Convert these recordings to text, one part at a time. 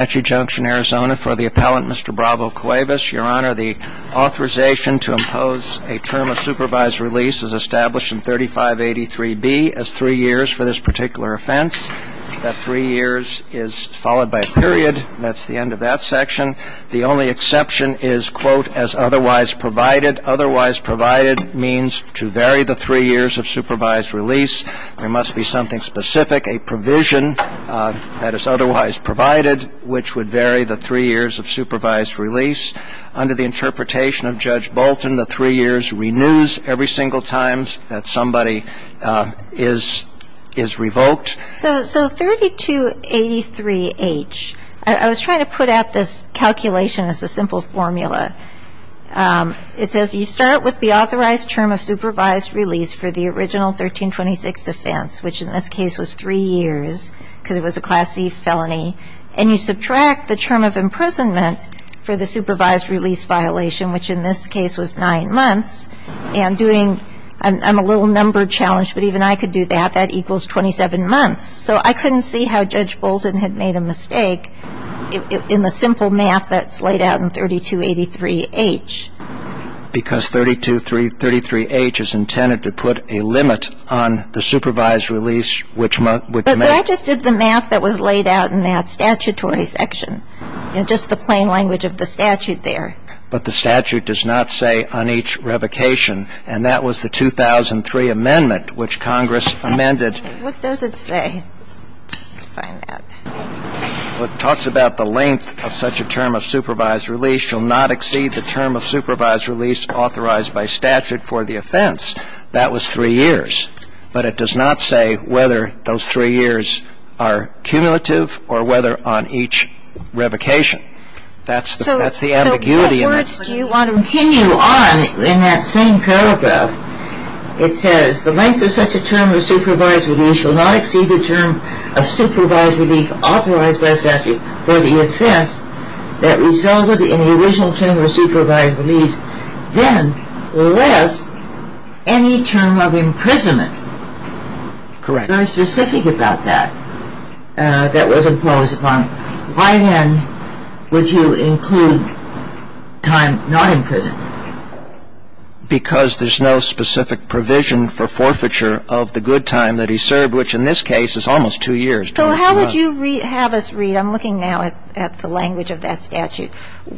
Your Honor, the authorization to impose a term of supervised release is established in 3583B as three years for this particular offense. That three years is followed by a period. That's the end of that section. The only exception is, quote, as otherwise provided. Otherwise provided means to vary the three years of supervised release. There must be something specific, a provision that is otherwise provided. Which would vary the three years of supervised release. Under the interpretation of Judge Bolton, the three years renews every single time that somebody is revoked. So 3283H, I was trying to put out this calculation as a simple formula. It says you start with the authorized term of supervised release for the original 1326 offense, which in this case was three years, because it was a Class C felony. And you subtract the term of imprisonment for the supervised release violation, which in this case was nine months. And doing, I'm a little number challenged, but even I could do that. That equals 27 months. So I couldn't see how Judge Bolton had made a mistake in the simple math that's laid out in 3283H. Because 3233H is intended to put a limit on the supervised release, which may. But I just did the math that was laid out in that statutory section. You know, just the plain language of the statute there. But the statute does not say on each revocation. And that was the 2003 amendment, which Congress amended. What does it say? Let me find that. Well, it talks about the length of such a term of supervised release shall not exceed the term of supervised release authorized by statute for the offense. That was three years. But it does not say whether those three years are cumulative or whether on each revocation. That's the ambiguity in that. So what words do you want to continue on in that same paragraph? It says the length of such a term of supervised release shall not exceed the term of supervised release authorized by statute for the offense that resulted in the original term of supervised release. Then less any term of imprisonment. Correct. Very specific about that. That was imposed upon. Why then would you include time not in prison? Because there's no specific provision for forfeiture of the good time that he served, which in this case is almost two years. So how would you have us read? I'm looking now at the language of that statute.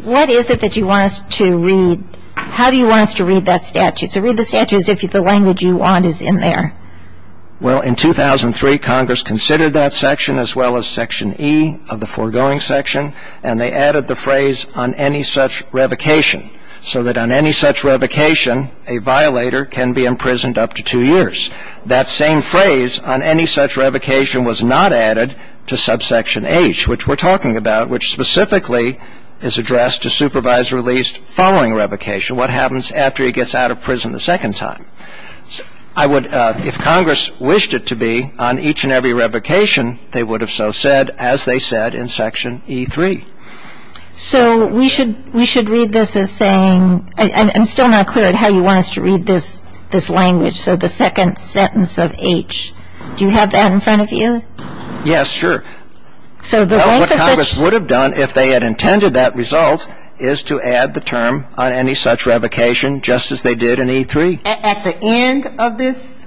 What is it that you want us to read? How do you want us to read that statute? So read the statute as if the language you want is in there. Well, in 2003, Congress considered that section as well as Section E of the foregoing section. And they added the phrase, on any such revocation, so that on any such revocation, a violator can be imprisoned up to two years. That same phrase, on any such revocation, was not added to subsection H, which we're talking about, which specifically is addressed to supervised release following revocation. What happens after he gets out of prison the second time? I would, if Congress wished it to be, on each and every revocation, they would have so said, as they said in Section E3. So we should read this as saying, I'm still not clear on how you want us to read this language, so the second sentence of H. Do you have that in front of you? Yes, sure. What Congress would have done if they had intended that result is to add the term, on any such revocation, just as they did in E3. At the end of this?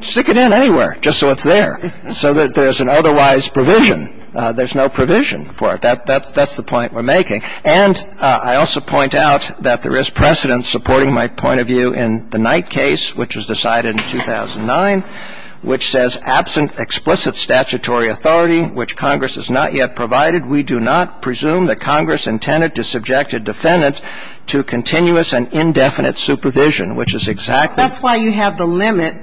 Stick it in anywhere, just so it's there, so that there's an otherwise provision. There's no provision for it. That's the point we're making. And I also point out that there is precedence supporting my point of view in the Knight case, which was decided in 2009, which says, absent explicit statutory authority which Congress has not yet provided, we do not presume that Congress intended to subject a defendant to continuous and indefinite supervision, which is exactly That's why you have the limit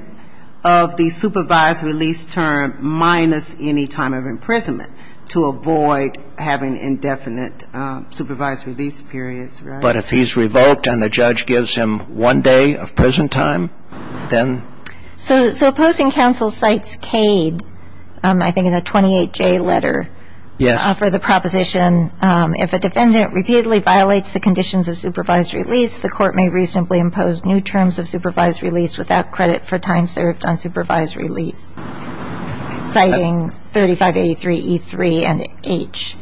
of the supervised release term minus any time of imprisonment, to avoid having indefinite supervised release periods, right? But if he's revoked and the judge gives him one day of prison time, then? So opposing counsel cites Cade, I think in a 28J letter. Yes. I offer the proposition, if a defendant repeatedly violates the conditions of supervised release, the court may reasonably impose new terms of supervised release without credit for time served on supervised release. Citing 3583E3 and H.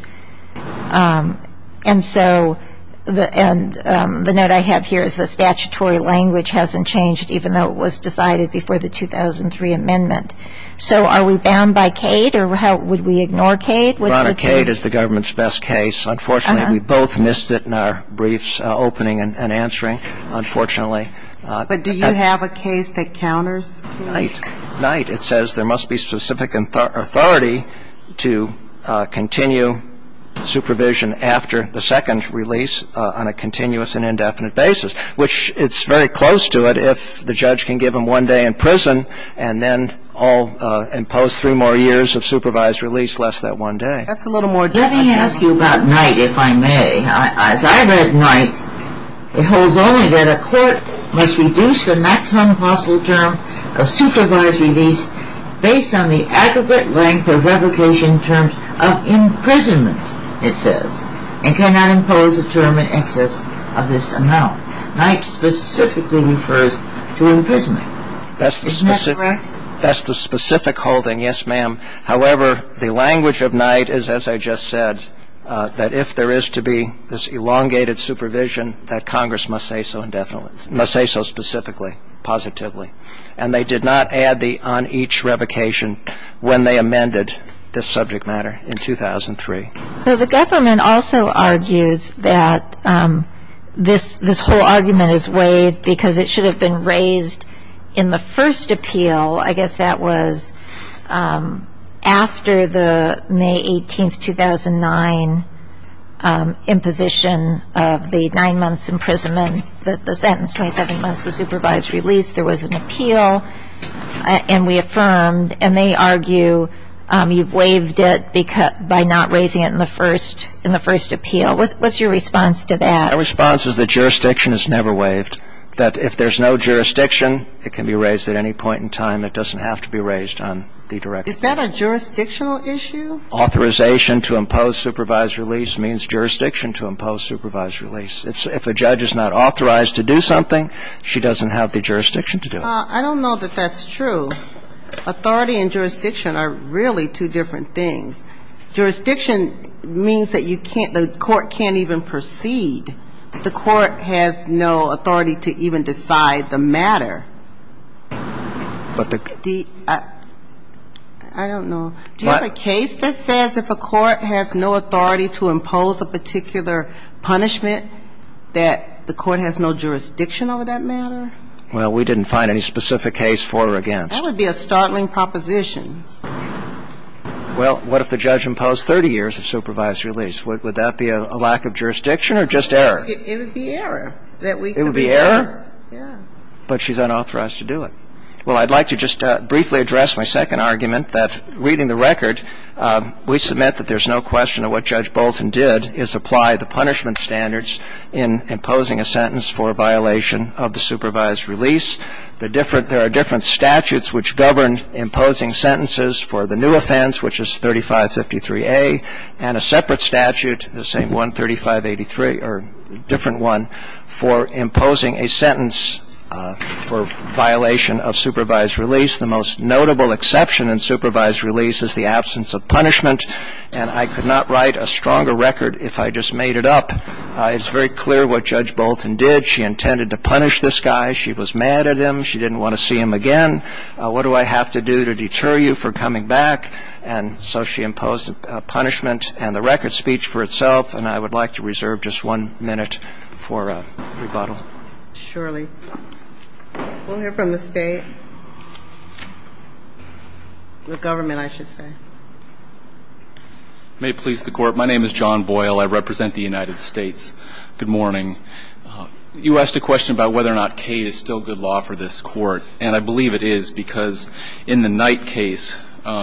And so the note I have here is the statutory language hasn't changed, even though it was decided before the 2003 amendment. So are we bound by Cade or would we ignore Cade? Cade is the government's best case. Unfortunately, we both missed it in our briefs, opening and answering, unfortunately. But do you have a case that counters Cade? Knight. It says there must be specific authority to continue supervision after the second release on a continuous and indefinite basis, which it's very close to it if the judge can give him one day in prison and then impose three more years of supervised release, less than one day. Let me ask you about Knight, if I may. As I read Knight, it holds only that a court must reduce the maximum possible term of supervised release based on the aggregate length of revocation terms of imprisonment, it says, and cannot impose a term in excess of this amount. Knight specifically refers to imprisonment. Isn't that correct? That's the specific holding, yes, ma'am. However, the language of Knight is, as I just said, that if there is to be this elongated supervision, that Congress must say so indefinitely, must say so specifically, positively. And they did not add the on each revocation when they amended this subject matter in 2003. So the government also argues that this whole argument is waived because it should have been raised in the first appeal. I guess that was after the May 18, 2009, imposition of the nine months imprisonment, the sentence, 27 months of supervised release. There was an appeal, and we affirmed. And they argue you've waived it by not raising it in the first appeal. What's your response to that? My response is that jurisdiction is never waived, that if there's no jurisdiction, it can be raised at any point in time. It doesn't have to be raised on the directive. Is that a jurisdictional issue? Authorization to impose supervised release means jurisdiction to impose supervised release. If a judge is not authorized to do something, she doesn't have the jurisdiction to do it. I don't know that that's true. Authority and jurisdiction are really two different things. Jurisdiction means that you can't the court can't even proceed. The court has no authority to even decide the matter. I don't know. Do you have a case that says if a court has no authority to impose a particular punishment, that the court has no jurisdiction over that matter? Well, we didn't find any specific case for or against. That would be a startling proposition. Well, what if the judge imposed 30 years of supervised release? Would that be a lack of jurisdiction or just error? It would be error. It would be error? Yeah. But she's unauthorized to do it. Well, I'd like to just briefly address my second argument, that reading the record, we submit that there's no question of what Judge Bolton did is apply the punishment standards in imposing a sentence for violation of the supervised release. There are different statutes which govern imposing sentences for the new offense, which is 3553A, and a separate statute, the same one, 3583, or a different one for imposing a sentence for violation of supervised release. The most notable exception in supervised release is the absence of punishment. And I could not write a stronger record if I just made it up. It's very clear what Judge Bolton did. She intended to punish this guy. She was mad at him. She didn't want to see him again. What do I have to do to deter you from coming back? And so she imposed a punishment and the record speech for itself. And I would like to reserve just one minute for rebuttal. Surely. We'll hear from the State, the government, I should say. May it please the Court. My name is John Boyle. I represent the United States. Good morning. You asked a question about whether or not Cate is still good law for this Court, and I believe it is because in the Knight case,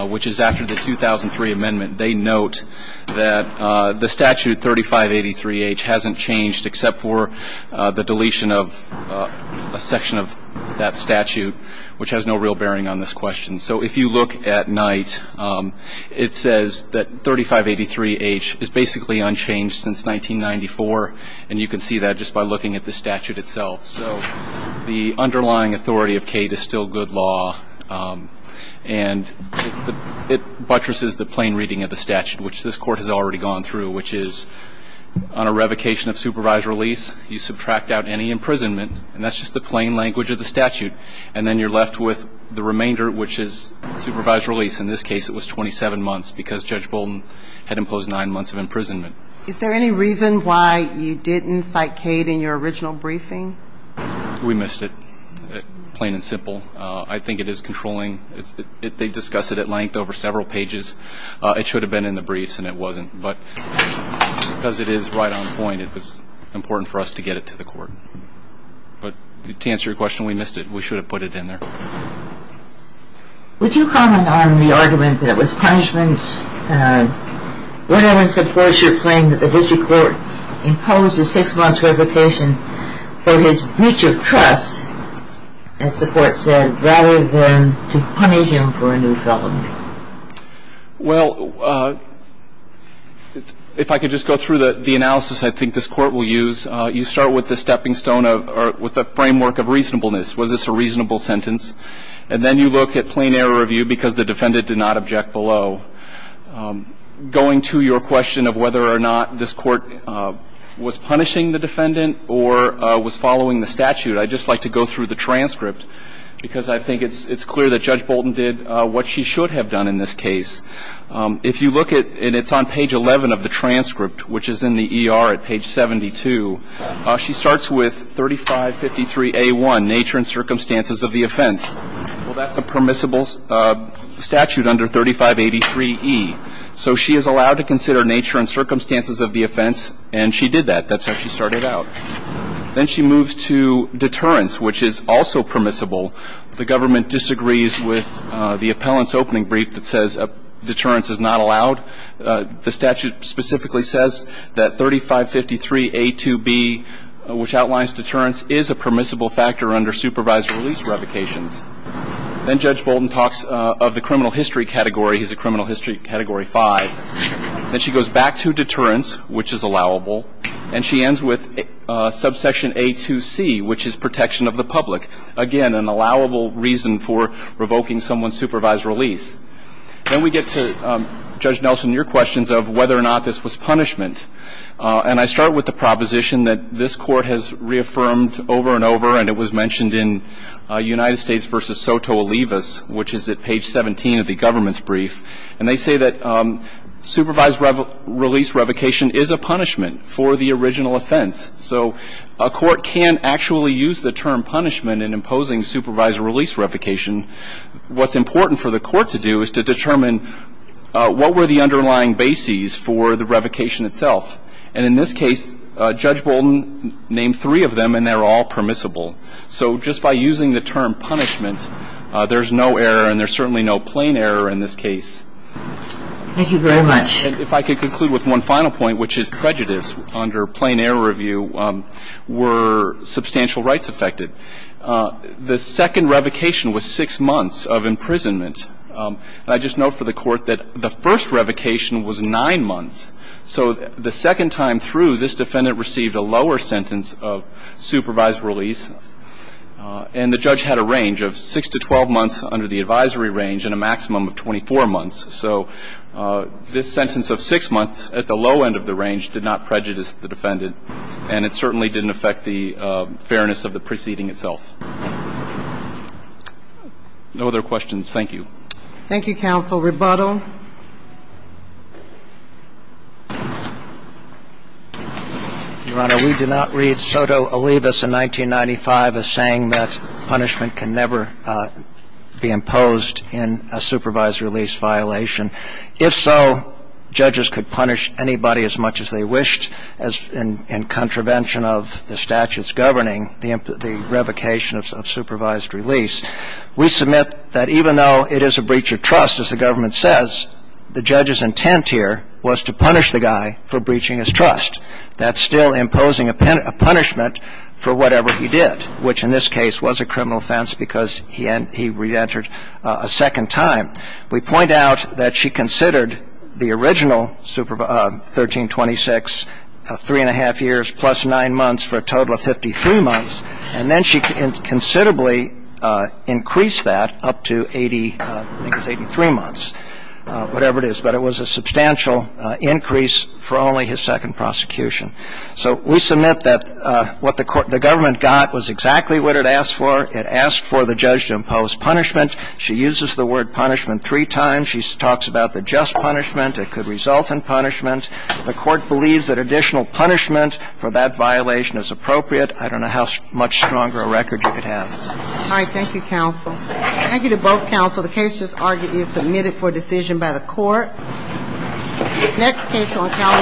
which is after the 2003 amendment, they note that the statute 3583H hasn't changed except for the deletion of a section of that statute, which has no real bearing on this question. So if you look at Knight, it says that 3583H is basically unchanged since 1994, and you can see that just by looking at the statute itself. So the underlying authority of Cate is still good law, and it buttresses the plain reading of the statute, which this Court has already gone through, which is on a revocation of supervised release, you subtract out any imprisonment, and that's just the plain language of the statute, and then you're left with the remainder, which is supervised release. In this case, it was 27 months because Judge Bolden had imposed nine months of imprisonment. Is there any reason why you didn't cite Cate in your original briefing? We missed it, plain and simple. I think it is controlling. They discuss it at length over several pages. It should have been in the briefs, and it wasn't, but because it is right on point, it was important for us to get it to the Court. But to answer your question, we missed it. We should have put it in there. Would you comment on the argument that it was punishment, whatever supports your claim that the district court imposed a six-months revocation for his breach of trust, as the Court said, rather than to punish him for a new felony? Well, if I could just go through the analysis I think this Court will use. You start with the stepping stone of or with the framework of reasonableness. Was this a reasonable sentence? And then you look at plain error of view because the defendant did not object below. Going to your question of whether or not this Court was punishing the defendant or was following the statute, I'd just like to go through the transcript, because I think it's clear that Judge Bolden did what she should have done in this case. If you look at it, it's on page 11 of the transcript, which is in the ER at page 72. She starts with 3553A1, nature and circumstances of the offense. Well, that's a permissible statute under 3583E. So she is allowed to consider nature and circumstances of the offense, and she did that. That's how she started out. Then she moves to deterrence, which is also permissible. The government disagrees with the appellant's opening brief that says deterrence is not allowed. The statute specifically says that 3553A2B, which outlines deterrence, is a permissible factor under supervised release revocations. Then Judge Bolden talks of the criminal history category. He's a criminal history category 5. Then she goes back to deterrence, which is allowable, and she ends with subsection A2C, which is protection of the public. Again, an allowable reason for revoking someone's supervised release. Then we get to, Judge Nelson, your questions of whether or not this was punishment. And I start with the proposition that this Court has reaffirmed over and over, and it was mentioned in United States v. Soto Olivas, which is at page 17 of the government's brief. And they say that supervised release revocation is a punishment for the original offense. So a court can actually use the term punishment in imposing supervised release revocation. What's important for the Court to do is to determine what were the underlying bases for the revocation itself. And in this case, Judge Bolden named three of them, and they're all permissible. So just by using the term punishment, there's no error, and there's certainly no plain error in this case. And if I could conclude with one final point, which is prejudice, under plain error review, were substantial rights affected. The second revocation was six months of imprisonment. And I just note for the Court that the first revocation was nine months. So the second time through, this defendant received a lower sentence of supervised release. And the judge had a range of 6 to 12 months under the advisory range and a maximum of 24 months. So this sentence of 6 months at the low end of the range did not prejudice the defendant, and it certainly didn't affect the fairness of the preceding itself. No other questions. Thank you. Thank you, Counsel. Rebuttal. Your Honor, we do not read soto alibis in 1995 as saying that punishment can never be imposed in a supervised release violation. If so, judges could punish anybody as much as they wished in contravention of the statute's governing the revocation of supervised release. We submit that even though it is a breach of trust, as the government says, the judge's intent here was to punish the guy for breaching his trust. That's still imposing a punishment for whatever he did, which in this case was a criminal offense because he reentered a second time. We point out that she considered the original 1326 three-and-a-half years plus 9 months for a total of 53 months, and then she considerably increased that up to 80, I think it was 83 months, whatever it is, but it was a substantial increase for only his second prosecution. So we submit that what the government got was exactly what it asked for. It asked for the judge to impose punishment. She uses the word punishment three times. She talks about the just punishment. It could result in punishment. The Court believes that additional punishment for that violation is appropriate. I don't know how much stronger a record you could have. All right. Thank you, counsel. Thank you to both counsel. The case, as argued, is submitted for decision by the Court. Next case on Calibre.